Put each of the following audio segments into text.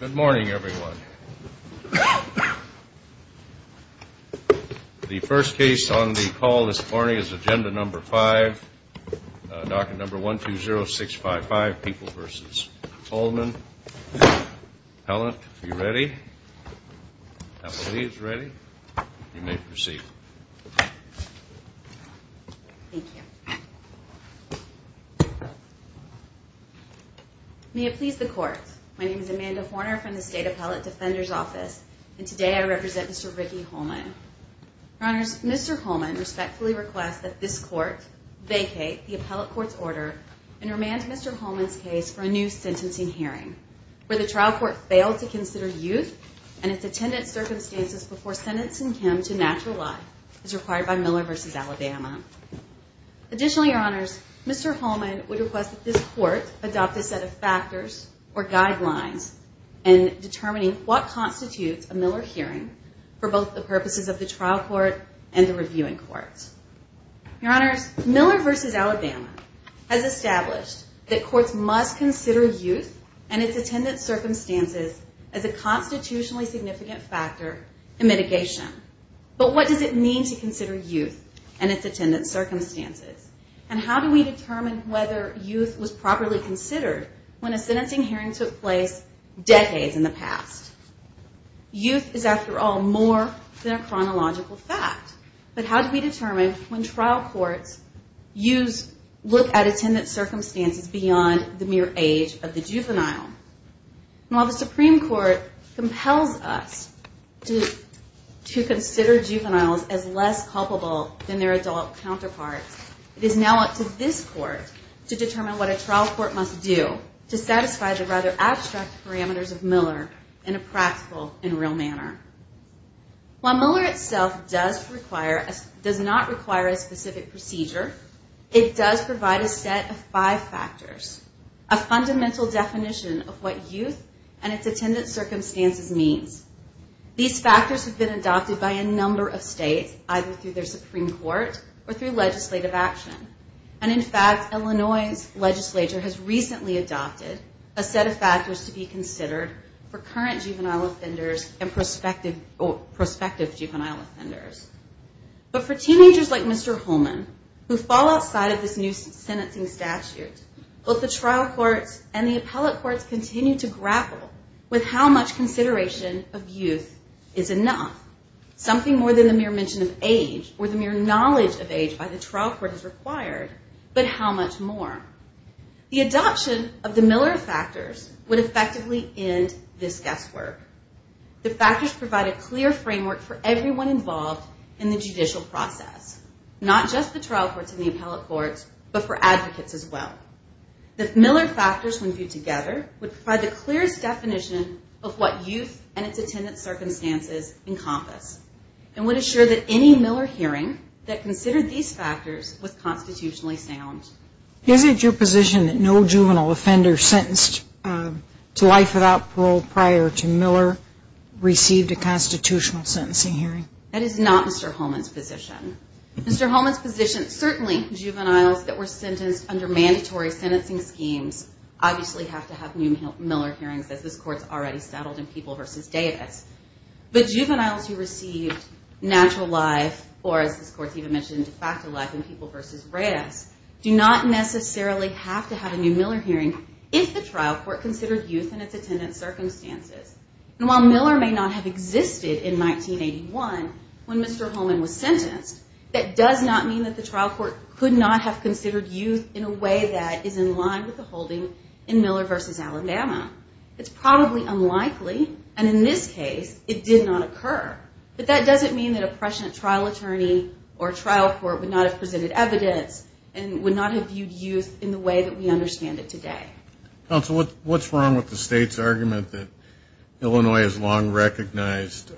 Good morning, everyone. The first case on the call this morning is Agenda No. 5, Docket No. 120655, People v. Holman. Helen, are you ready? Kathleen, are you ready? You may proceed. Thank you. May it please the Court, my name is Amanda Horner from the State Appellate Defender's Office, and today I represent Mr. Ricky Holman. Your Honors, Mr. Holman respectfully requests that this Court vacate the Appellate Court's order and remand Mr. Holman's case for a new sentencing hearing, where the trial court failed to consider youth and its attendant circumstances before sentencing him to natural life as required by Miller v. Alabama. Additionally, Your Honors, Mr. Holman would request that this Court adopt a set of factors or guidelines in determining what constitutes a Miller hearing for both the purposes of the trial court and the reviewing courts. Your Honors, Miller v. Alabama has established that courts must consider youth and its attendant circumstances as a constitutionally significant factor in mitigation, but what does it mean to consider youth and its attendant circumstances, and how do we determine whether youth was properly considered when a sentencing hearing took place decades in the past? Youth is, after all, more than a chronological fact, but how do we determine the age of the juvenile? While the Supreme Court compels us to consider juveniles as less culpable than their adult counterparts, it is now up to this Court to determine what a trial court must do to satisfy the rather abstract parameters of Miller in a practical and real manner. While Miller itself does not require a specific procedure, it does provide a set of five factors, a fundamental definition of what youth and its attendant circumstances means. These factors have been adopted by a number of states, either through their Supreme Court or through legislative action, and in fact, Illinois' legislature has recently adopted a set of factors to be considered for current juvenile offenders and prospective juvenile offenders. But for teenagers like Mr. Holman, who fall outside of this new sentencing statute, both the trial courts and the appellate courts continue to grapple with how much consideration of youth is enough, something more than the mere mention of age or the mere knowledge of age by the trial court is required, but how much more? The adoption of the Miller factors would effectively end this guesswork. The factors provide a clear framework for everyone involved in the judicial process, not just the trial courts and the appellate courts, but for advocates as well. The Miller factors when viewed together would provide the clearest definition of what youth and its attendant circumstances encompass and would assure that any Miller hearing that considered these factors was constitutionally sound. Is it your position that no juvenile offender sentenced to life without parole prior to Miller received a constitutional sentencing hearing? That is not Mr. Holman's position. Mr. Holman's position, certainly juveniles that were sentenced under mandatory sentencing schemes obviously have to have new Miller hearings, as this Court's already settled in People v. Davis. But juveniles who received natural life, or as this Court's even mentioned, de facto life in People v. Reyes, do not necessarily have to have a new Miller hearing if the trial court considered youth and its attendant circumstances. And while Miller may not have existed in 1981 when Mr. Holman was sentenced, that does not mean that the trial court could not have considered youth in a way that is in line with the holding in Miller v. Alabama. It's probably unlikely, and in this case, it did not occur. But that doesn't mean that a prescient trial attorney or trial court would not have presented evidence and would not have viewed youth in the way that we understand it today. Counsel, what's wrong with the state's argument that Illinois has long recognized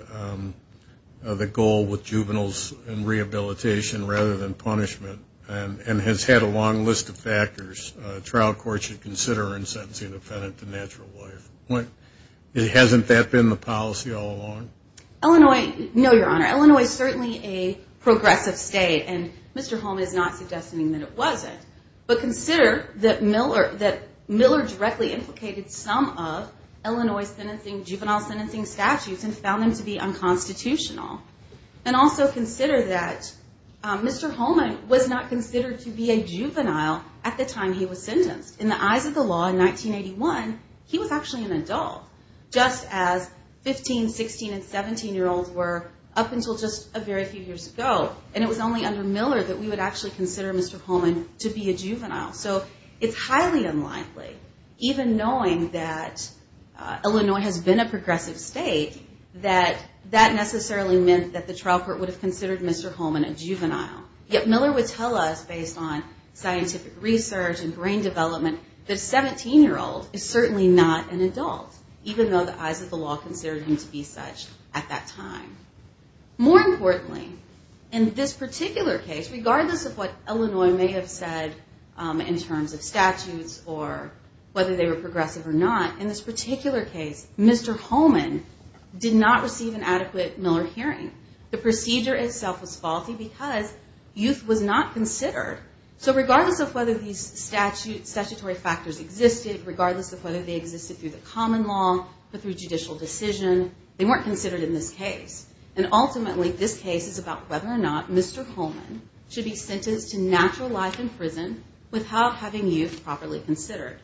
the goal with juveniles and rehabilitation rather than punishment and has had a long list of factors trial courts should consider in sentencing an offendant to natural life? Hasn't that been the policy all along? Illinois, no, Your Honor. Illinois is certainly a progressive state, and Mr. Holman is not suggesting that it wasn't. But consider that Miller directly implicated some of Illinois juvenile sentencing statutes and found them to be unconstitutional. And also consider that Mr. Holman was not considered to be a juvenile at the time he was sentenced. In the eyes of the law in 1981, he was actually an adult, just as 15, 16, and 17-year-olds were up until just a very few years ago. And it was only under Miller that we would actually consider Mr. Holman to be a juvenile. So it's highly unlikely, even knowing that Illinois has been a progressive state, that that necessarily meant that the trial court would have considered Mr. Holman a juvenile. Yet Miller would tell us, based on scientific research and brain development, that a 17-year-old is certainly not an adult, even though the eyes of the law considered him to be such at that time. More importantly, in this particular case, regardless of what Illinois may have said in terms of statutes or whether they were progressive or not, in this particular case, Mr. Holman did not receive an adequate Miller hearing. The procedure itself was faulty because youth was not considered. So regardless of whether these statutory factors existed, regardless of whether they existed through the common law or through judicial decision, they weren't considered in this case. And ultimately, this case is about whether or not Mr. Holman should be sentenced to natural life in prison without having youth properly considered.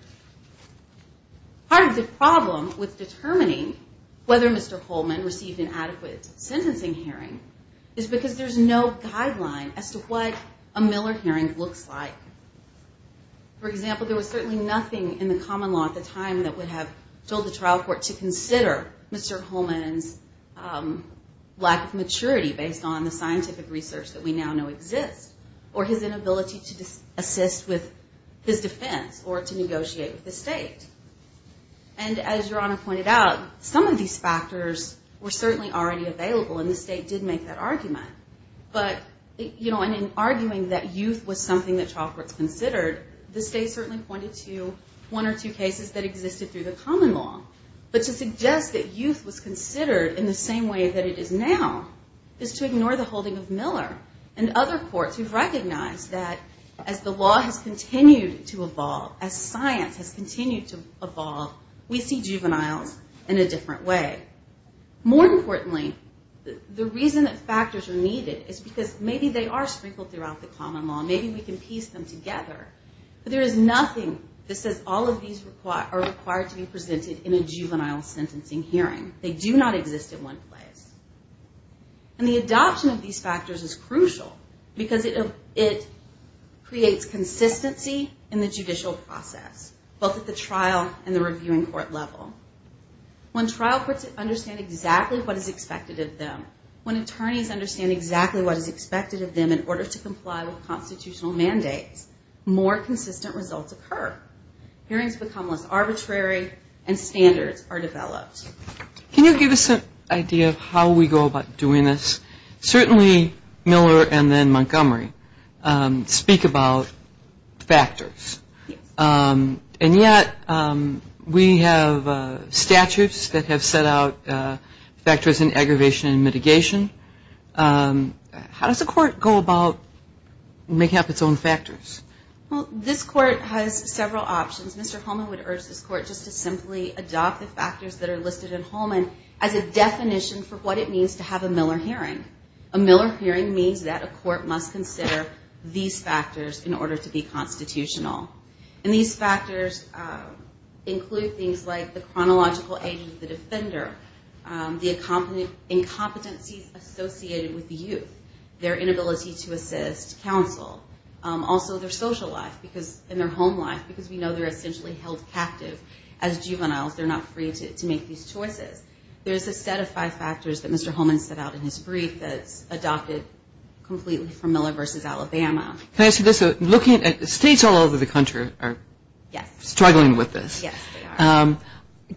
Part of the problem with determining whether Mr. Holman received an adequate sentencing hearing is because there's no guideline as to what a Miller hearing looks like. For example, there was certainly nothing in the common law at the time that would have told the trial court to consider Mr. Holman's lack of maturity based on the scientific research that we now know exists, or his inability to assist with his defense or to negotiate with the state. And as Your Honor pointed out, some of these factors were certainly already available, and the state did make that argument. But in arguing that youth was something that trial courts considered, the state certainly pointed to one or two cases that existed through the common law. But to suggest that youth was considered in the same way that it is now is to ignore the holding of Miller and other courts who recognize that as the law has continued to evolve, as science has continued to evolve, we see juveniles in a different way. More importantly, the reason that factors are needed is because maybe they are sprinkled throughout the common law. Maybe we can piece them together. But there is nothing that says all of these are required to be presented in a juvenile sentencing hearing. They do not exist in one place. And the adoption of these factors is crucial because it creates consistency in the judicial process, both at the trial and the reviewing court level. When trial courts understand exactly what is expected of them, when attorneys understand exactly what is expected of them in order to comply with constitutional mandates, more consistent results occur. Hearings become less arbitrary and standards are developed. Can you give us an idea of how we go about doing this? Certainly Miller and then Montgomery speak about factors. And yet we have statutes that have set out factors in aggravation and mitigation. How does a court go about making up its own factors? Well, this court has several options. Mr. Holman would urge this court just to simply adopt the factors that are listed in Holman as a definition for what it means to have a Miller hearing. A Miller hearing means that a court must consider these factors in order to be constitutional. And these factors include things like the chronological age of the defender, the incompetencies associated with the youth, their inability to assist counsel, also their social life and their home life because we know they're essentially held captive as juveniles. They're not free to make these choices. There's a set of five factors that Mr. Holman set out in his brief that's adopted completely from Miller versus Alabama. Can I say this? States all over the country are struggling with this. Yes, they are.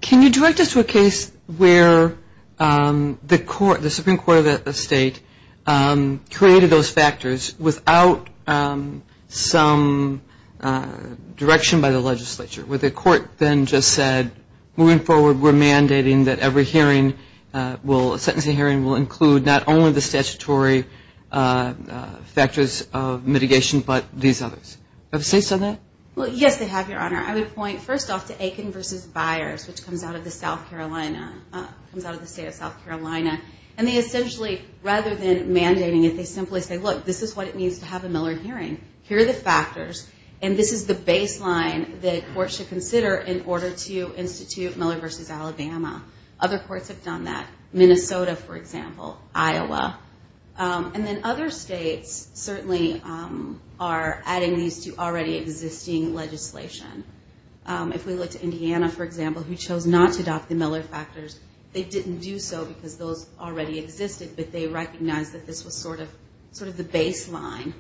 Can you direct us to a case where the Supreme Court of the state created those factors without some direction by the legislature? Where the court then just said, moving forward, we're mandating that every hearing, a sentencing hearing will include not only the statutory factors of mitigation but these others. Have the states done that? Yes, they have, Your Honor. I would point first off to Aiken versus Byers, which comes out of the state of South Carolina. And they essentially, rather than mandating it, they simply say, look, this is what it means to have a Miller hearing. Here are the factors, and this is the baseline the court should consider in order to institute Miller versus Alabama. Other courts have done that. Minnesota, for example, Iowa. And then other states certainly are adding these to already existing legislation. If we look to Indiana, for example, who chose not to adopt the Miller factors, they didn't do so because those already existed, but they recognized that this was sort of the baseline.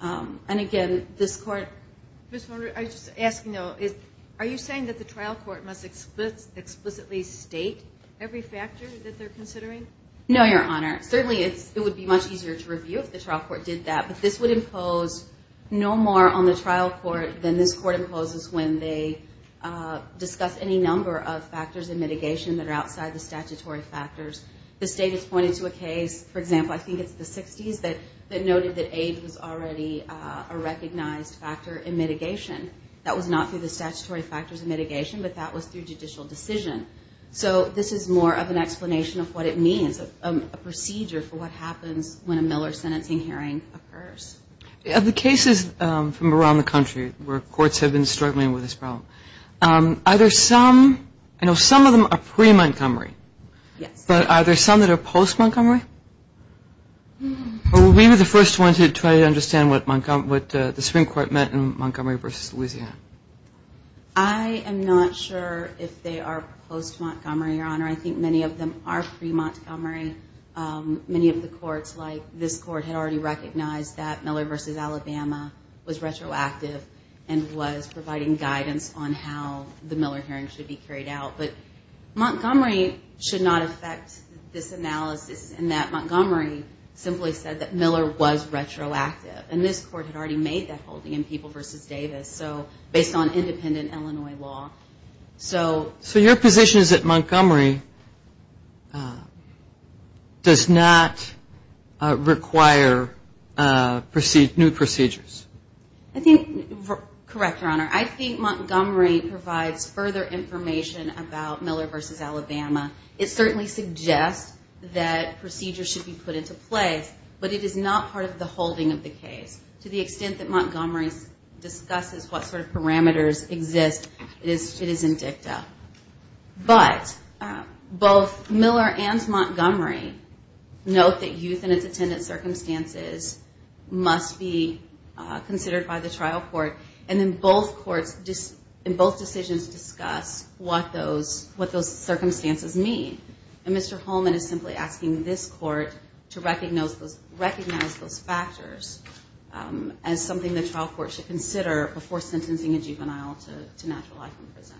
And, again, this court ---- Ms. Horner, I'm just asking though, are you saying that the trial court must explicitly state every factor that they're considering? No, Your Honor. Certainly it would be much easier to review if the trial court did that, but this would impose no more on the trial court than this court imposes when they discuss any number of factors in mitigation that are outside the statutory factors. The state has pointed to a case, for example, I think it's the 60s, that noted that age was already a recognized factor in mitigation. That was not through the statutory factors in mitigation, but that was through judicial decision. So this is more of an explanation of what it means, a procedure for what happens when a Miller sentencing hearing occurs. Of the cases from around the country where courts have been struggling with this problem, are there some ---- I know some of them are pre-Montgomery. Yes. But are there some that are post-Montgomery? We were the first ones to try to understand what the Supreme Court meant in Montgomery v. Louisiana. I am not sure if they are post-Montgomery, Your Honor. I think many of them are pre-Montgomery. Many of the courts, like this court, had already recognized that Miller v. Alabama was retroactive and was providing guidance on how the Miller hearing should be carried out. But Montgomery should not affect this analysis in that Montgomery simply said that Miller was retroactive. And this court had already made that holding in People v. Davis, so based on independent Illinois law. So your position is that Montgomery does not require new procedures? I think, correct, Your Honor, I think Montgomery provides further information about Miller v. Alabama. It certainly suggests that procedures should be put into place, but it is not part of the holding of the case. To the extent that Montgomery discusses what sort of parameters exist, it is in dicta. But both Miller and Montgomery note that youth in its attendant circumstances must be considered by the trial court, and both decisions discuss what those circumstances mean. And Mr. Holman is simply asking this court to recognize those factors as something the trial court should consider before sentencing a juvenile to natural life in prison.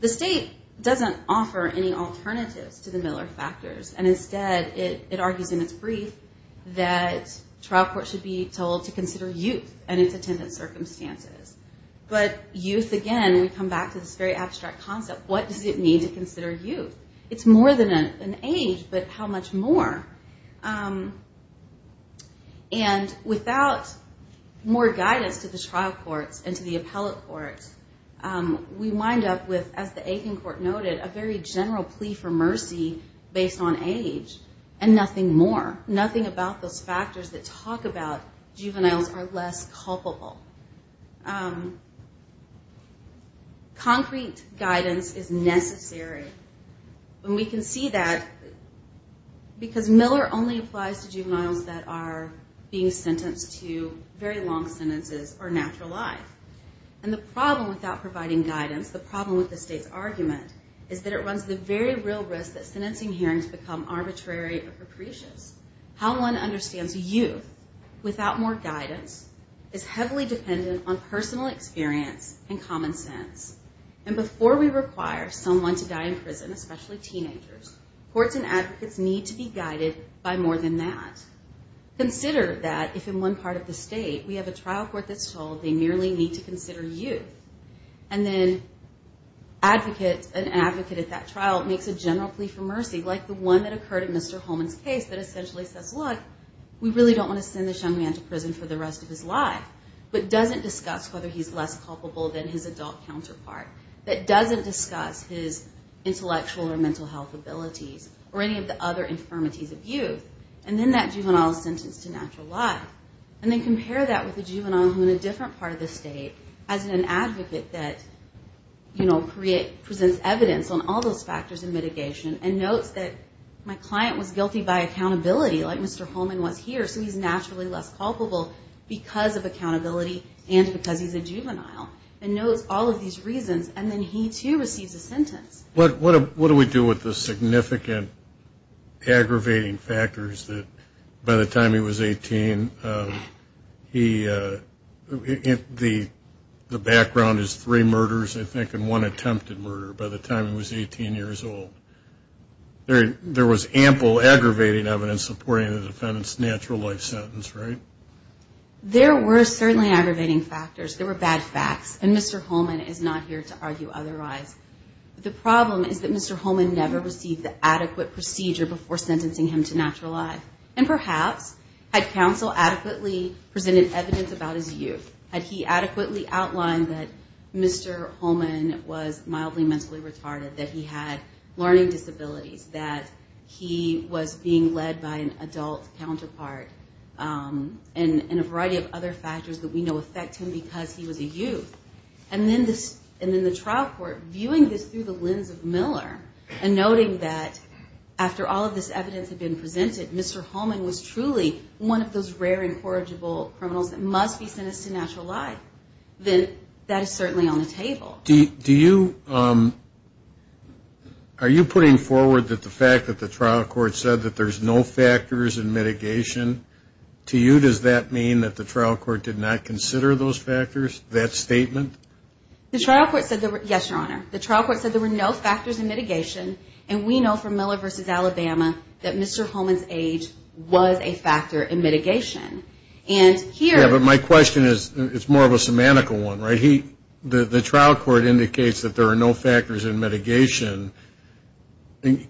The state doesn't offer any alternatives to the Miller factors, and instead it argues in its brief that trial court should be told to consider youth and its attendant circumstances. But youth, again, we come back to this very abstract concept. What does it mean to consider youth? It's more than an age, but how much more? And without more guidance to the trial courts and to the appellate courts, we wind up with, as the Aiken court noted, a very general plea for mercy based on age and nothing more, nothing about those factors that talk about juveniles are less culpable. Concrete guidance is necessary. And we can see that because Miller only applies to juveniles that are being sentenced to very long sentences or natural life. And the problem without providing guidance, the problem with the state's argument, is that it runs the very real risk that sentencing hearings become arbitrary or capricious. How one understands youth without more guidance is heavily dependent on personal experience and common sense. And before we require someone to die in prison, especially teenagers, courts and advocates need to be guided by more than that. Consider that if in one part of the state we have a trial court that's told they merely need to consider youth, and then an advocate at that trial makes a general plea for mercy, like the one that occurred in Mr. Holman's case that essentially says, Look, we really don't want to send this young man to prison for the rest of his life, but doesn't discuss whether he's less culpable than his adult counterpart, that doesn't discuss his intellectual or mental health abilities or any of the other infirmities of youth. And then that juvenile is sentenced to natural life. And then compare that with a juvenile who in a different part of the state, as an advocate that presents evidence on all those factors and mitigation and notes that my client was guilty by accountability like Mr. Holman was here, so he's naturally less culpable because of accountability and because he's a juvenile and knows all of these reasons, and then he too receives a sentence. What do we do with the significant aggravating factors that by the time he was 18, the background is three murders, I think, and one attempted murder by the time he was 18 years old. There was ample aggravating evidence supporting the defendant's natural life sentence, right? There were certainly aggravating factors. There were bad facts, and Mr. Holman is not here to argue otherwise. The problem is that Mr. Holman never received the adequate procedure before sentencing him to natural life, and perhaps had counsel adequately presented evidence about his youth, had he adequately outlined that Mr. Holman was mildly mentally retarded, that he had learning disabilities, that he was being led by an adult counterpart, and a variety of other factors that we know affect him because he was a youth. And then the trial court, viewing this through the lens of Miller and noting that after all of this evidence had been presented, Mr. Holman was truly one of those rare incorrigible criminals that must be sentenced to natural life, then that is certainly on the table. Are you putting forward that the fact that the trial court said that there's no factors in mitigation, to you does that mean that the trial court did not consider those factors, that statement? Yes, Your Honor. The trial court said there were no factors in mitigation, and we know from Miller v. Alabama that Mr. Holman's age was a factor in mitigation. Yeah, but my question is, it's more of a semantical one, right? The trial court indicates that there are no factors in mitigation.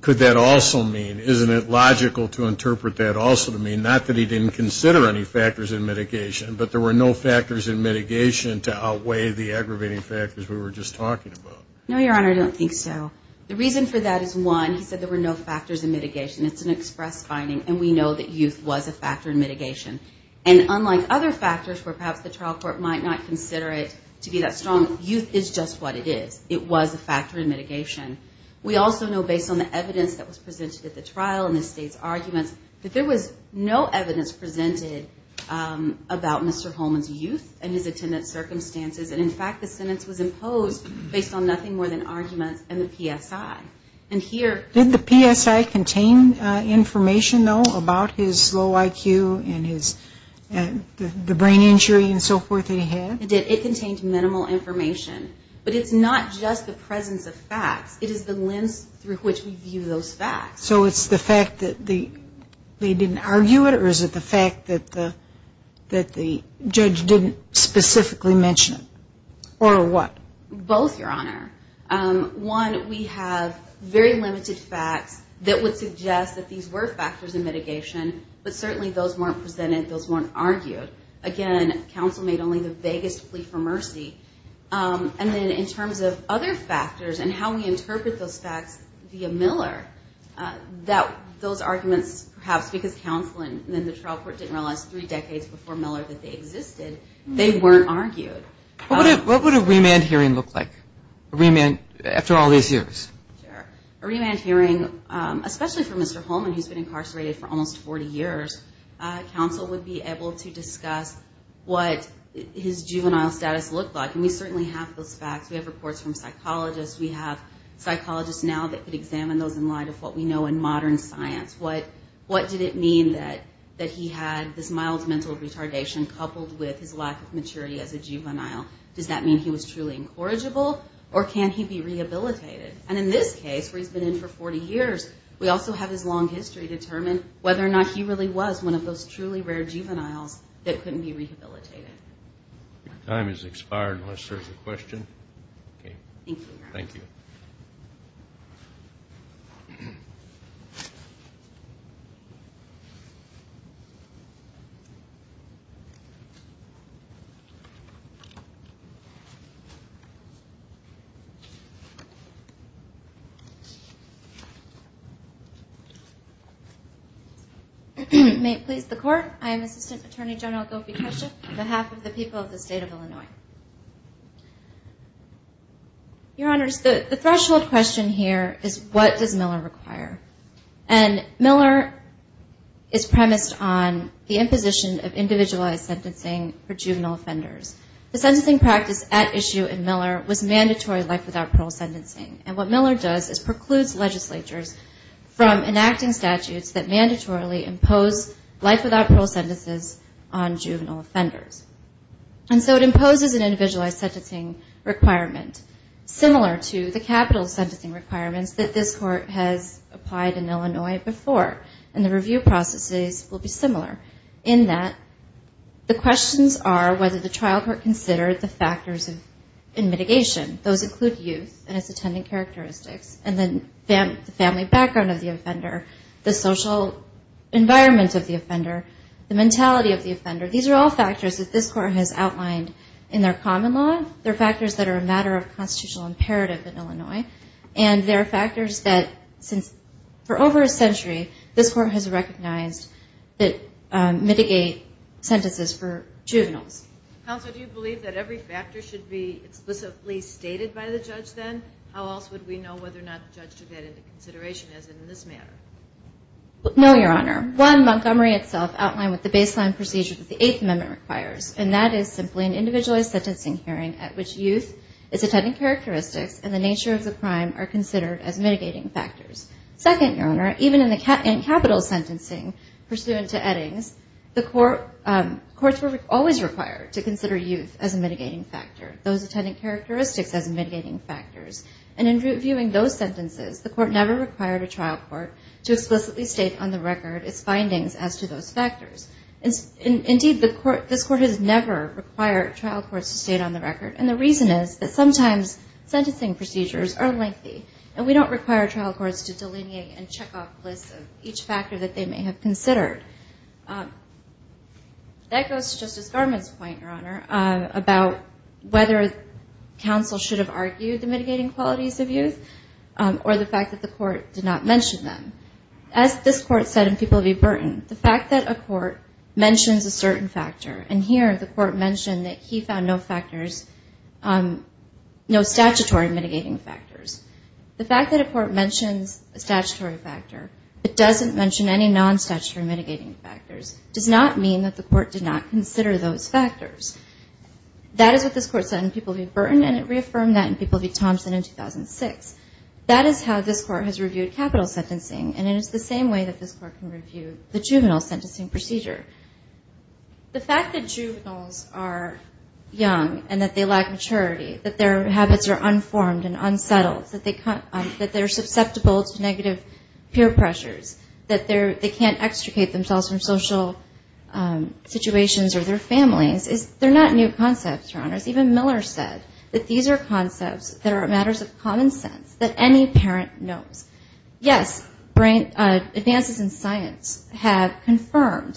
Could that also mean, isn't it logical to interpret that also to mean not that he didn't consider any factors in mitigation, but there were no factors in mitigation to outweigh the aggravating factors we were just talking about? No, Your Honor, I don't think so. The reason for that is, one, he said there were no factors in mitigation. It's an express finding, and we know that youth was a factor in mitigation. And unlike other factors where perhaps the trial court might not consider it to be that strong, youth is just what it is. It was a factor in mitigation. We also know based on the evidence that was presented at the trial and the state's arguments that there was no evidence presented about Mr. Holman's youth and his attendance circumstances. And, in fact, the sentence was imposed based on nothing more than arguments and the PSI. Did the PSI contain information, though, about his low IQ and the brain injury and so forth that he had? It did. It contained minimal information. But it's not just the presence of facts. It is the lens through which we view those facts. So it's the fact that they didn't argue it, or is it the fact that the judge didn't specifically mention it? Or what? Both, Your Honor. One, we have very limited facts that would suggest that these were factors in mitigation, but certainly those weren't presented, those weren't argued. Again, counsel made only the vaguest plea for mercy. And then in terms of other factors and how we interpret those facts via Miller, those arguments perhaps because counsel and then the trial court didn't realize three decades before Miller that they existed, they weren't argued. What would a remand hearing look like after all these years? Sure. A remand hearing, especially for Mr. Holman, who's been incarcerated for almost 40 years, counsel would be able to discuss what his juvenile status looked like. And we certainly have those facts. We have reports from psychologists. We have psychologists now that could examine those in light of what we know in modern science. What did it mean that he had this mild mental retardation coupled with his lack of maturity as a juvenile? Does that mean he was truly incorrigible? Or can he be rehabilitated? And in this case, where he's been in for 40 years, we also have his long history determine whether or not he really was one of those truly rare juveniles that couldn't be rehabilitated. Your time has expired unless there's a question. Thank you. May it please the Court. I am Assistant Attorney General Gopi Keshav on behalf of the people of the State of Illinois. Your Honors, the threshold question here is what does Miller require? And Miller is premised on the imposition of individualized sentencing for juvenile offenders. The sentencing practice at issue in Miller was mandatory life without parole sentencing. And what Miller does is precludes legislatures from enacting statutes that mandatorily impose life without parole sentences on juvenile offenders. And so it imposes an individualized sentencing requirement similar to the capital sentencing requirements that this Court has applied in Illinois before, and the review processes will be similar, in that the questions are whether the trial court considered the factors in mitigation. Those include youth and its attendant characteristics, and then the family background of the offender, the social environment of the offender, the mentality of the offender. These are all factors that this Court has outlined in their common law. They're factors that are a matter of constitutional imperative in Illinois, and they're factors that since for over a century this Court has recognized that mitigate sentences for juveniles. Counsel, do you believe that every factor should be explicitly stated by the judge then? How else would we know whether or not the judge took that into consideration as in this matter? No, Your Honor. One, Montgomery itself outlined with the baseline procedure that the Eighth Amendment requires, and that is simply an individualized sentencing hearing at which youth, its attendant characteristics, and the nature of the crime are considered as mitigating factors. Second, Your Honor, even in capital sentencing pursuant to Eddings, the courts were always required to consider youth as a mitigating factor, those attendant characteristics as mitigating factors. And in reviewing those sentences, the Court never required a trial court to explicitly state on the record its findings as to those factors. Indeed, this Court has never required trial courts to state on the record, and the reason is that sometimes sentencing procedures are lengthy, and we don't require trial courts to delineate and check off lists of each factor that they may have considered. That goes to Justice Garment's point, Your Honor, about whether counsel should have argued the mitigating qualities of youth or the fact that the Court did not mention them. As this Court said in People v. Burton, the fact that a court mentions a certain factor, and here the Court mentioned that he found no statutory mitigating factors, the fact that a court mentions a statutory factor but doesn't mention any non-statutory mitigating factors does not mean that the Court did not consider those factors. That is what this Court said in People v. Burton, and it reaffirmed that in People v. Thompson in 2006. That is how this Court has reviewed capital sentencing, and it is the same way that this Court can review the juvenile sentencing procedure. The fact that juveniles are young and that they lack maturity, that their habits are unformed and unsettled, that they're susceptible to negative peer pressures, that they can't extricate themselves from social situations or their families, they're not new concepts, Your Honor. As even Miller said, that these are concepts that are matters of common sense that any parent knows. Yes, advances in science have confirmed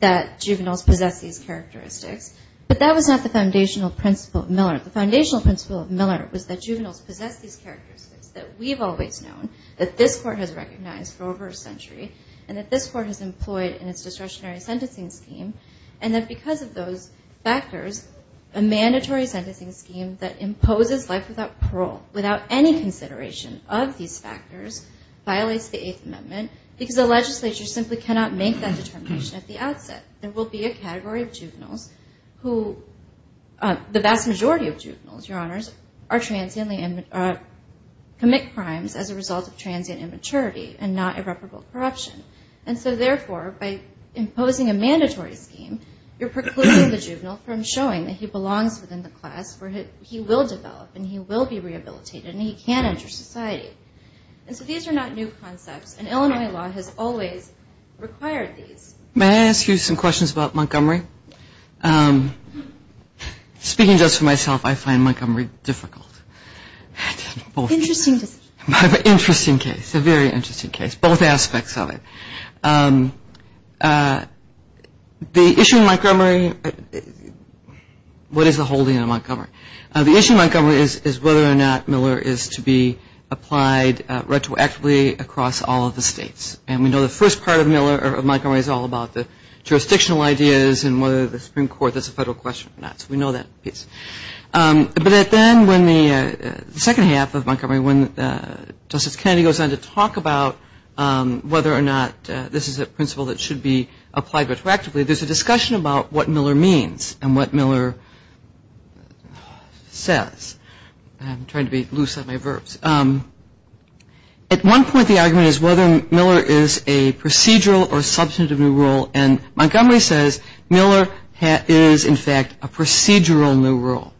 that juveniles possess these characteristics, but that was not the foundational principle of Miller. The foundational principle of Miller was that juveniles possess these characteristics that we've always known, and that this Court has employed in its discretionary sentencing scheme, and that because of those factors, a mandatory sentencing scheme that imposes life without parole, without any consideration of these factors, violates the Eighth Amendment, because the legislature simply cannot make that determination at the outset. There will be a category of juveniles who, the vast majority of juveniles, Your Honors, are transiently, commit crimes as a result of transient immaturity and not irreparable corruption. And so therefore, by imposing a mandatory scheme, you're precluding the juvenile from showing that he belongs within the class where he will develop and he will be rehabilitated and he can enter society. And so these are not new concepts, and Illinois law has always required these. May I ask you some questions about Montgomery? Speaking just for myself, I find Montgomery difficult. Interesting case, a very interesting case, both aspects of it. The issue in Montgomery, what is the holding of Montgomery? The issue in Montgomery is whether or not Miller is to be applied retroactively across all of the states, and we know the first part of Montgomery is all about the jurisdictional ideas and whether the Supreme Court, that's a federal question or not, so we know that piece. But then when the second half of Montgomery, when Justice Kennedy goes on to talk about whether or not this is a principle that should be applied retroactively, there's a discussion about what Miller means and what Miller says. I'm trying to be loose on my verbs. At one point the argument is whether Miller is a procedural or substantive new rule, and Montgomery says Miller is in fact a procedural new rule.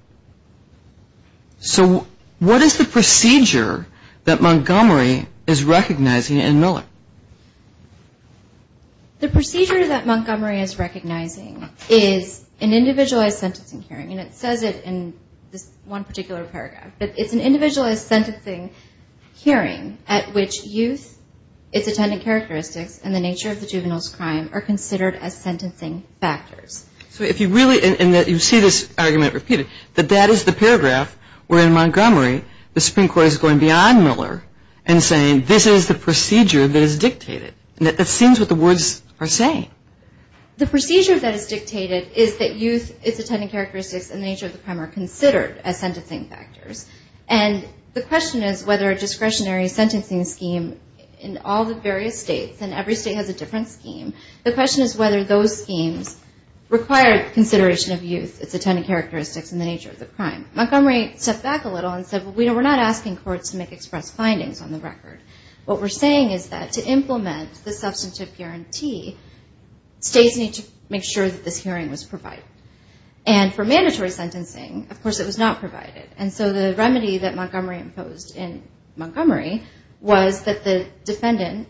So what is the procedure that Montgomery is recognizing in Miller? The procedure that Montgomery is recognizing is an individualized sentencing hearing, and it says it in this one particular paragraph. It's an individualized sentencing hearing at which youth, its attendant characteristics, and the nature of the juvenile's crime are considered as sentencing factors. So if you really, and you see this argument repeated, that that is the paragraph where in Montgomery the Supreme Court is going beyond Miller and saying this is the procedure that is dictated. That seems what the words are saying. The procedure that is dictated is that youth, its attendant characteristics, and the nature of the crime are considered as sentencing factors. And the question is whether a discretionary sentencing scheme in all the various states, and every state has a different scheme, the question is whether those schemes require consideration of youth, its attendant characteristics, and the nature of the crime. Montgomery stepped back a little and said, well, we're not asking courts to make express findings on the record. What we're saying is that to implement the substantive guarantee, states need to make sure that this hearing was provided. And for mandatory sentencing, of course it was not provided. And so the remedy that Montgomery imposed in Montgomery was that the defendant,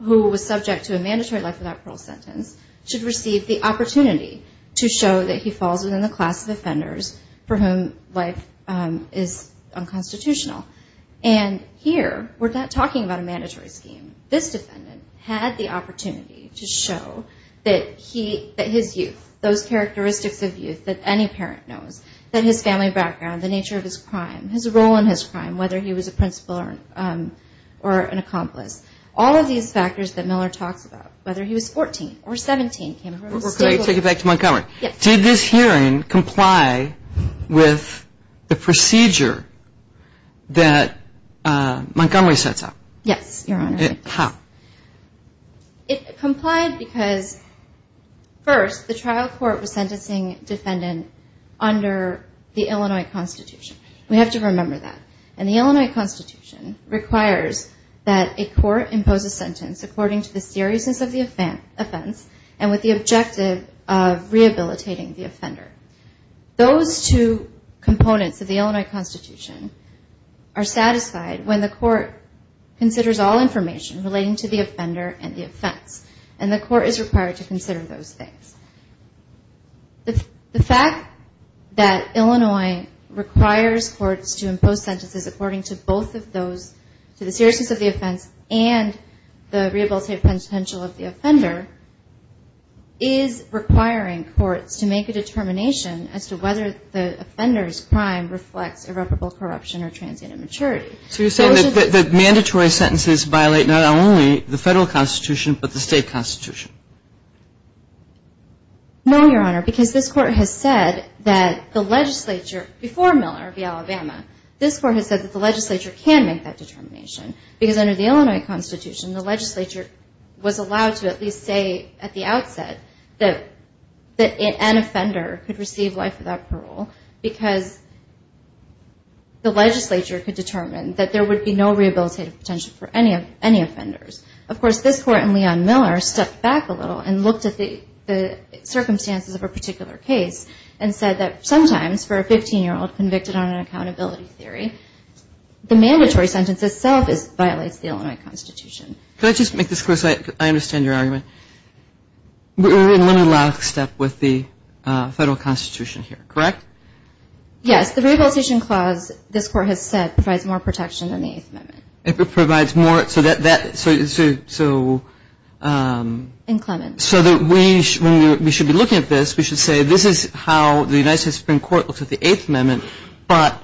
who was subject to a mandatory life without parole sentence, should receive the opportunity to show that he falls within the class of offenders for whom life is unconstitutional. And here, we're not talking about a mandatory scheme. This defendant had the opportunity to show that his youth, those characteristics of youth that any parent knows, that his family background, the nature of his crime, his role in his crime, whether he was a principal or an accomplice, all of these factors that Miller talks about, whether he was 14 or 17, came from the state. Let me take it back to Montgomery. Did this hearing comply with the procedure that Montgomery sets up? Yes, Your Honor. How? It complied because, first, the trial court was sentencing a defendant under the Illinois Constitution. We have to remember that. And the Illinois Constitution requires that a court impose a sentence according to the seriousness of the offense and with the objective of rehabilitating the offender. Those two components of the Illinois Constitution are satisfied when the court considers all information relating to the offender and the offense, and the court is required to consider those things. The fact that Illinois requires courts to impose sentences according to both of those, to the seriousness of the offense and the rehabilitative potential of the offender, is requiring courts to make a determination as to whether the offender's crime reflects irreparable corruption or transient immaturity. So you're saying that mandatory sentences violate not only the Federal Constitution but the state Constitution? No, Your Honor, because this Court has said that the legislature, before Miller v. Alabama, this Court has said that the legislature can make that determination because under the Illinois Constitution, the legislature was allowed to at least say at the outset that an offender could receive life without parole because the legislature could determine that there would be no rehabilitative potential for any offenders. Of course, this Court and Leon Miller stepped back a little and looked at the circumstances of a particular case and said that sometimes for a 15-year-old convicted on an accountability theory, the mandatory sentence itself violates the Illinois Constitution. Could I just make this clear so I understand your argument? Let me last step with the Federal Constitution here, correct? Yes, the Rehabilitation Clause, this Court has said, provides more protection than the Eighth Amendment. It provides more so that that, so... In Clemens. So that we should be looking at this, we should say, this is how the United States Supreme Court looks at the Eighth Amendment, but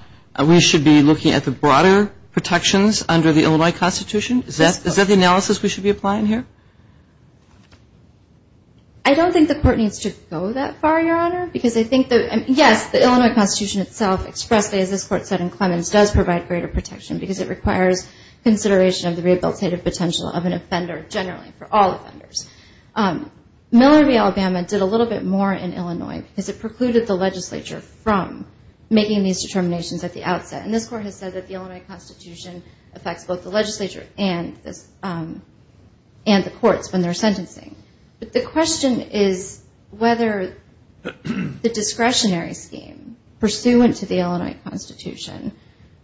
we should be looking at the broader protections under the Illinois Constitution? Is that the analysis we should be applying here? I don't think the Court needs to go that far, Your Honor, because I think that, yes, the Illinois Constitution itself expressly, as this Court said in Clemens, does provide greater protection because it requires consideration of the rehabilitative potential of an offender generally, for all offenders. Miller v. Alabama did a little bit more in Illinois because it precluded the legislature from making these determinations at the outset. And this Court has said that the Illinois Constitution affects both the legislature and the courts when they're sentencing. But the question is whether the discretionary scheme pursuant to the Illinois Constitution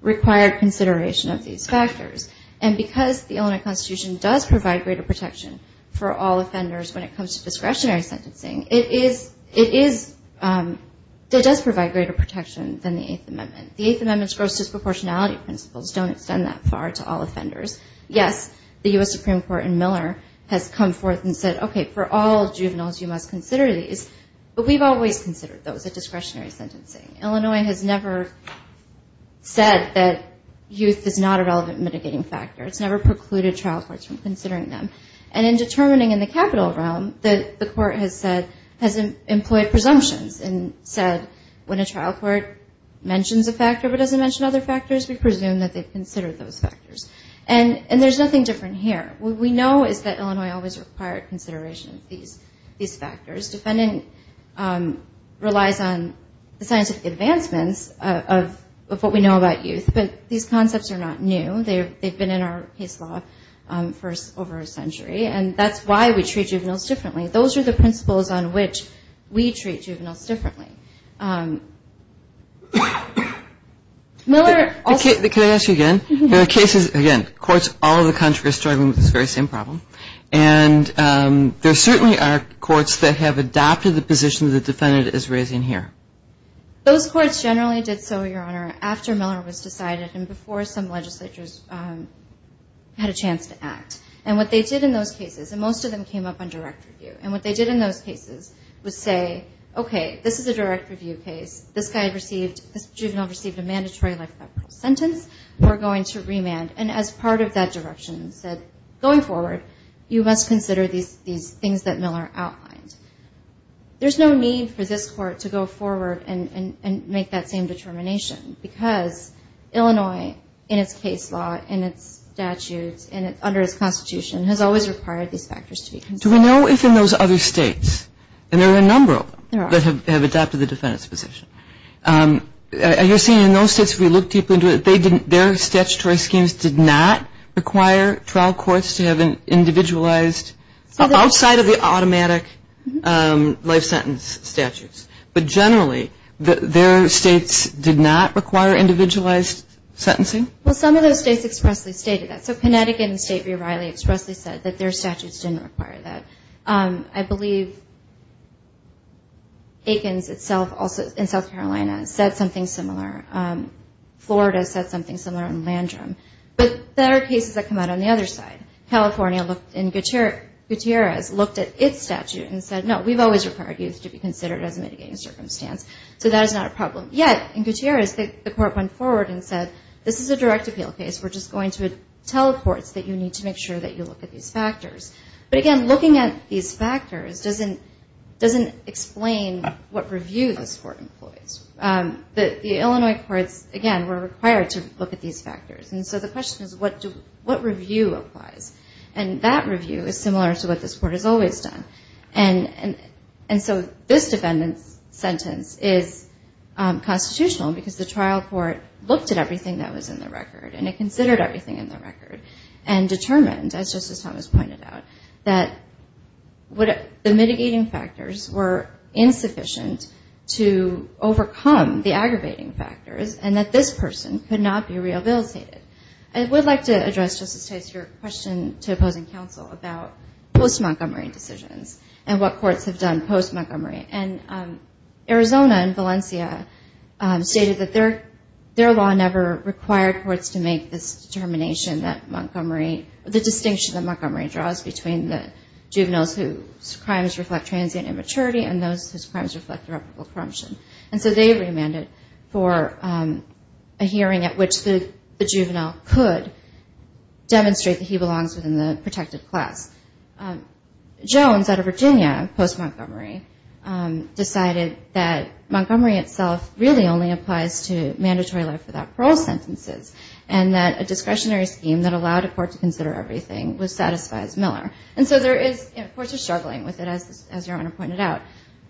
required consideration of these factors. And because the Illinois Constitution does provide greater protection for all offenders when it comes to discretionary sentencing, it does provide greater protection than the Eighth Amendment. The Eighth Amendment's gross disproportionality principles don't extend that far to all offenders. Yes, the U.S. Supreme Court in Miller has come forth and said, okay, for all juveniles you must consider these, but we've always considered those a discretionary sentencing. Illinois has never said that youth is not a relevant mitigating factor. It's never precluded trial courts from considering them. And in determining in the capital realm, the Court has said, has employed presumptions and said when a trial court mentions a factor but doesn't mention other factors, we presume that they've considered those factors. And there's nothing different here. What we know is that Illinois always required consideration of these factors. Defending relies on the scientific advancements of what we know about youth, but these concepts are not new. They've been in our case law for over a century, and that's why we treat juveniles differently. Those are the principles on which we treat juveniles differently. Can I ask you again? There are cases, again, courts all over the country are struggling with this very same problem, and there certainly are courts that have adopted the position the defendant is raising here. Those courts generally did so, Your Honor, after Miller was decided and before some legislatures had a chance to act. And what they did in those cases, and most of them came up on direct review, and what they did in those cases was say, okay, this is a direct review case. This guy received, this juvenile received a mandatory life sentence. We're going to remand. And as part of that direction said, going forward, you must consider these things that Miller outlined. There's no need for this court to go forward and make that same determination because Illinois, in its case law, in its statutes, under its Constitution, has always required these factors to be considered. Do we know if in those other states, and there are a number of them, that have adopted the defendant's position. You're saying in those states, if we look deeply into it, their statutory schemes did not require trial courts to have an individualized, outside of the automatic life sentence statutes. But generally, their states did not require individualized sentencing? Well, some of those states expressly stated that. So Connecticut and the state of Earl Riley expressly said that their statutes didn't require that. I believe Aikens itself, in South Carolina, said something similar. Florida said something similar in Landrum. But there are cases that come out on the other side. California, in Gutierrez, looked at its statute and said, no, we've always required youth to be considered as a mitigating circumstance. So that is not a problem. Yet, in Gutierrez, the court went forward and said, this is a direct appeal case. We're just going to tell courts that you need to make sure that you look at these factors. But, again, looking at these factors doesn't explain what review this court employs. The Illinois courts, again, were required to look at these factors. And so the question is, what review applies? And that review is similar to what this court has always done. And so this defendant's sentence is constitutional, because the trial court looked at everything that was in the record, and it considered everything in the record, and determined, as Justice Thomas pointed out, that the mitigating factors were insufficient to overcome the aggravating factors, and that this person could not be rehabilitated. I would like to address, Justice Tice, your question to opposing counsel about post-Montgomery decisions and what courts have done post-Montgomery. And Arizona and Valencia stated that their law never required courts to make this determination that Montgomery, the distinction that Montgomery draws between the juveniles whose crimes reflect transient immaturity and those whose crimes reflect irreparable corruption. And so they remanded for a hearing at which the juvenile could demonstrate that he belongs within the protected class. Jones, out of Virginia, post-Montgomery, decided that Montgomery itself really only applies to mandatory life without parole sentences, and that a discretionary scheme that allowed a court to consider everything would satisfy Miller. And so courts are struggling with it, as your Honor pointed out,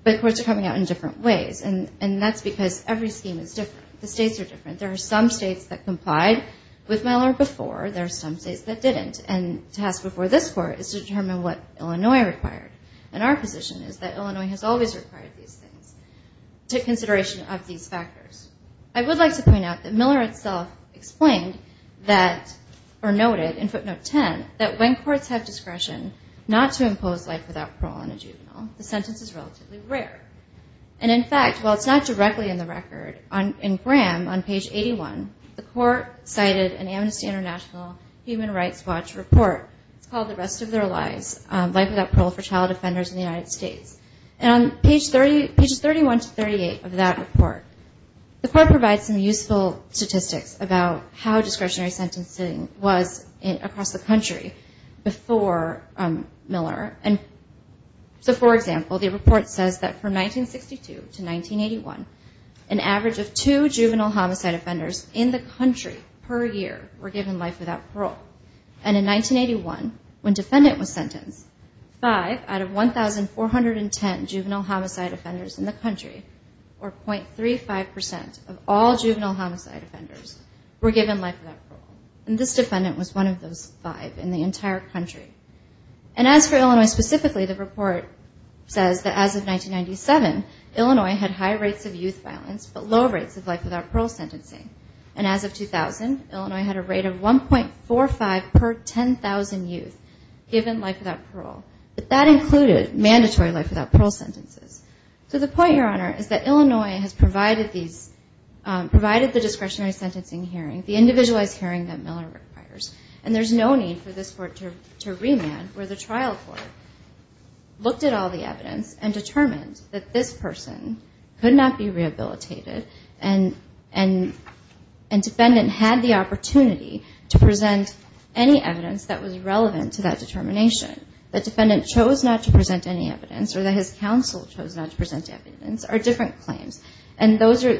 but courts are coming out in different ways. And that's because every scheme is different. The states are different. There are some states that complied with Miller before. There are some states that didn't. And the task before this Court is to determine what Illinois required. to take consideration of these factors. I would like to point out that Miller itself explained that, or noted in footnote 10, that when courts have discretion not to impose life without parole on a juvenile, the sentence is relatively rare. And in fact, while it's not directly in the record, in Graham, on page 81, the Court cited an Amnesty International Human Rights Watch report. It's called The Rest of Their Lives, Life Without Parole for Child Offenders in the United States. And on pages 31 to 38 of that report, the Court provides some useful statistics about how discretionary sentencing was across the country before Miller. So, for example, the report says that from 1962 to 1981, an average of two juvenile homicide offenders in the country per year were given life without parole. And in 1981, when defendant was sentenced, five out of 1,410 juvenile homicide offenders in the country, or .35% of all juvenile homicide offenders, were given life without parole. And this defendant was one of those five in the entire country. And as for Illinois specifically, the report says that as of 1997, Illinois had high rates of youth violence but low rates of life without parole sentencing. And as of 2000, Illinois had a rate of 1.45 per 10,000 youth given life without parole. But that included mandatory life without parole sentences. So the point, Your Honor, is that Illinois has provided these, provided the discretionary sentencing hearing, the individualized hearing that Miller requires. And there's no need for this Court to remand where the trial court looked at all the evidence and determined that this person could not be rehabilitated and defendant had the opportunity to present any evidence that was relevant to that determination. The defendant chose not to present any evidence or that his counsel chose not to present evidence are different claims. And those are,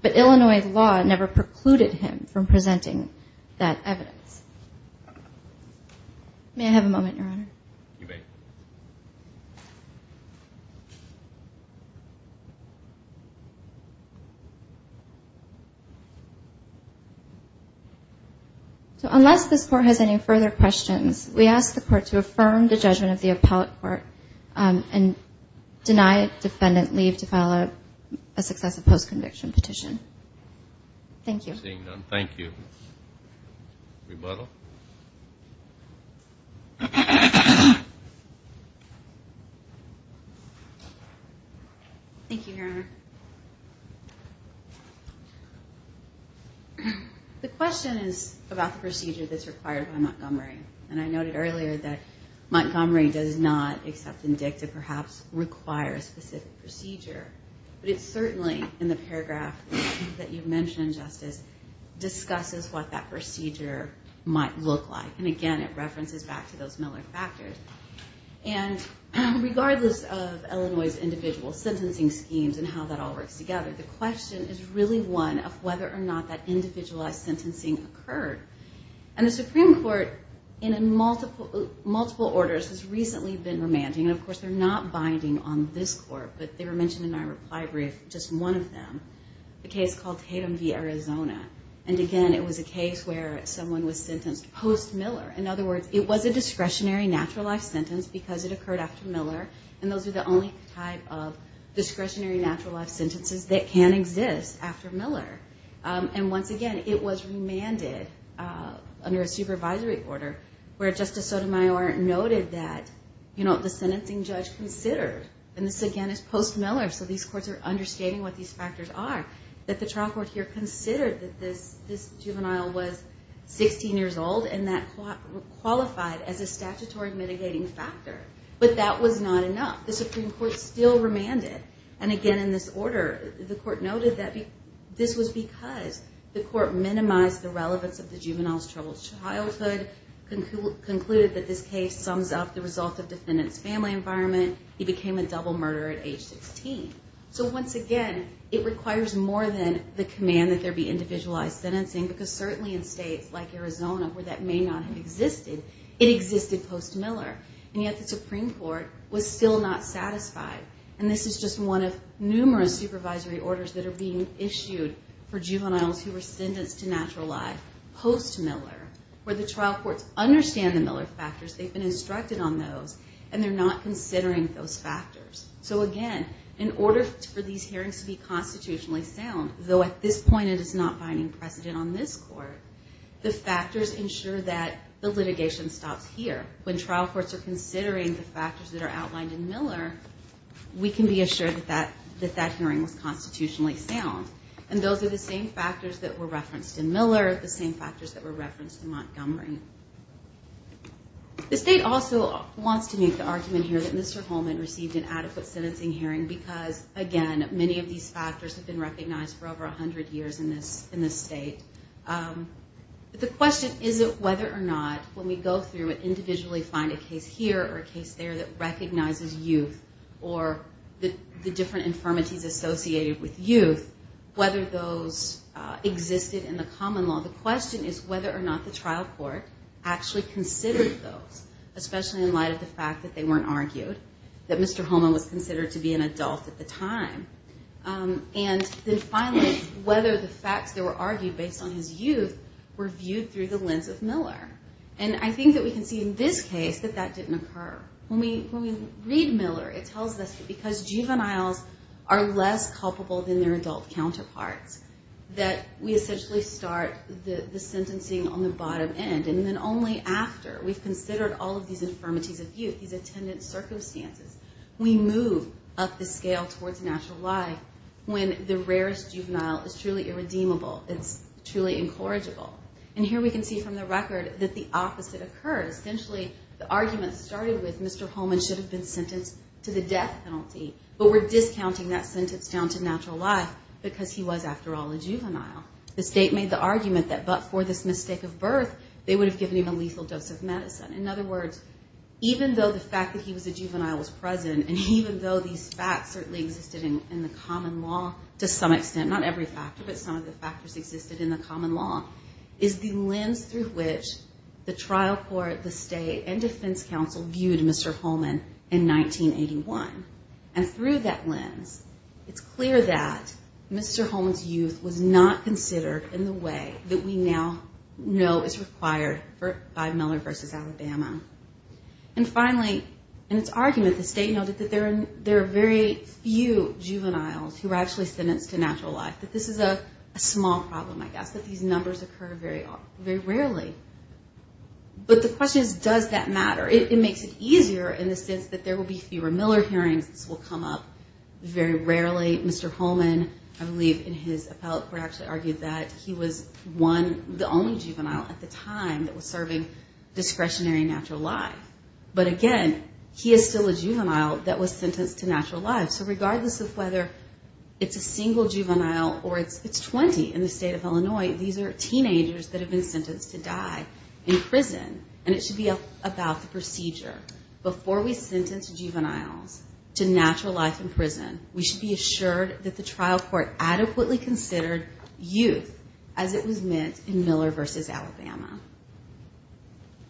but Illinois law never precluded him from presenting that evidence. May I have a moment, Your Honor? You may. Thank you. So unless this Court has any further questions, we ask the Court to affirm the judgment of the appellate court and deny defendant leave to file a successive post-conviction petition. Thank you. Seeing none, thank you. Rebuttal. Thank you, Your Honor. The question is about the procedure that's required by Montgomery. And I noted earlier that Montgomery does not, except in DICT, perhaps require a specific procedure. But it certainly, in the paragraph that you mentioned, Justice, discusses what that procedure might look like. And again, it references back to those Miller factors. And regardless of Illinois' individual sentencing schemes and how that all works together, the question is really one of whether or not that individualized sentencing occurred. And the Supreme Court, in multiple orders, has recently been remanding. And of course, they're not binding on this Court. But they were mentioned in my reply brief, just one of them, a case called Tatum v. Arizona. And again, it was a case where someone was sentenced post-Miller. In other words, it was a discretionary natural life sentence because it occurred after Miller. And those are the only type of discretionary natural life sentences that can exist after Miller. And once again, it was remanded under a supervisory order where Justice Sotomayor noted that, you know, the sentencing judge considered, and this again is post-Miller, so these courts are understanding what these factors are, that the trial court here considered that this juvenile was 16 years old, and that qualified as a statutory mitigating factor. But that was not enough. The Supreme Court still remanded. And again, in this order, the Court noted that this was because the Court minimized the relevance of the juvenile's troubled childhood, concluded that this case sums up the result of defendant's family environment. He became a double murderer at age 16. So once again, it requires more than the command that there be individualized sentencing, because certainly in states like Arizona, where that may not have existed, it existed post-Miller. And yet the Supreme Court was still not satisfied. And this is just one of numerous supervisory orders that are being issued for juveniles who were sentenced to natural life post-Miller, where the trial courts understand the Miller factors, they've been instructed on those, and they're not considering those factors. So again, in order for these hearings to be constitutionally sound, though at this point it is not finding precedent on this Court, the factors ensure that the litigation stops here. When trial courts are considering the factors that are outlined in Miller, we can be assured that that hearing was constitutionally sound. And those are the same factors that were referenced in Miller, the same factors that were referenced in Montgomery. The state also wants to make the argument here that Mr. Holman received an adequate sentencing hearing, because again, many of these factors have been recognized for over 100 years in this state. But the question isn't whether or not, when we go through and individually find a case here or a case there that recognizes youth, or the different infirmities associated with youth, whether those existed in the common law. The question is whether or not the trial court actually considered those, especially in light of the fact that they weren't argued, that Mr. Holman was considered to be an adult at the time. And then finally, whether the facts that were argued based on his youth were viewed through the lens of Miller. And I think that we can see in this case that that didn't occur. When we read Miller, it tells us that because juveniles are less culpable than their adult counterparts, that we essentially start the sentencing on the bottom end. And then only after we've considered all of these infirmities of youth, these attendant circumstances, we move up the scale towards natural life when the rarest juvenile is truly irredeemable, it's truly incorrigible. And here we can see from the record that the opposite occurs. Essentially, the argument started with Mr. Holman should have been sentenced to the death penalty, but we're discounting that sentence down to natural life because he was, after all, a juvenile. The state made the argument that but for this mistake of birth, they would have given him a lethal dose of medicine. In other words, even though the fact that he was a juvenile was present, and even though these facts certainly existed in the common law to some extent, not every factor, but some of the factors existed in the common law, is the lens through which the trial court, the state, and defense counsel viewed Mr. Holman in 1981. And through that lens, it's clear that Mr. Holman's youth was not considered in the way that we now know is required by Miller v. Alabama. And finally, in its argument, the state noted that there are very few juveniles who are actually sentenced to natural life, that this is a small problem, I guess, that these numbers occur very rarely. But the question is, does that matter? It makes it easier in the sense that there will be fewer Miller hearings. This will come up very rarely. Mr. Holman, I believe in his appellate court, actually argued that he was the only juvenile at the time that was serving discretionary natural life. But again, he is still a juvenile that was sentenced to natural life. So regardless of whether it's a single juvenile or it's 20 in the state of Illinois, these are teenagers that have been sentenced to die in prison. And it should be about the procedure. Before we sentence juveniles to natural life in prison, we should be assured that the trial court adequately considered youth as it was meant in Miller v. Alabama.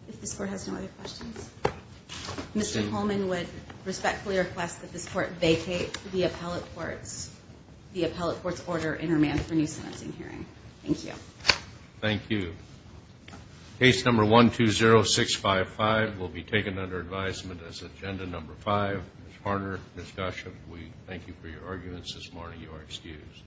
If this court has no other questions. Mr. Holman would respectfully request that this court vacate the appellate court's order in remand for new sentencing hearing. Thank you. Thank you. Case number 120655 will be taken under advisement as agenda number five. Ms. Harner, Ms. Gosch, we thank you for your arguments this morning. You are excused.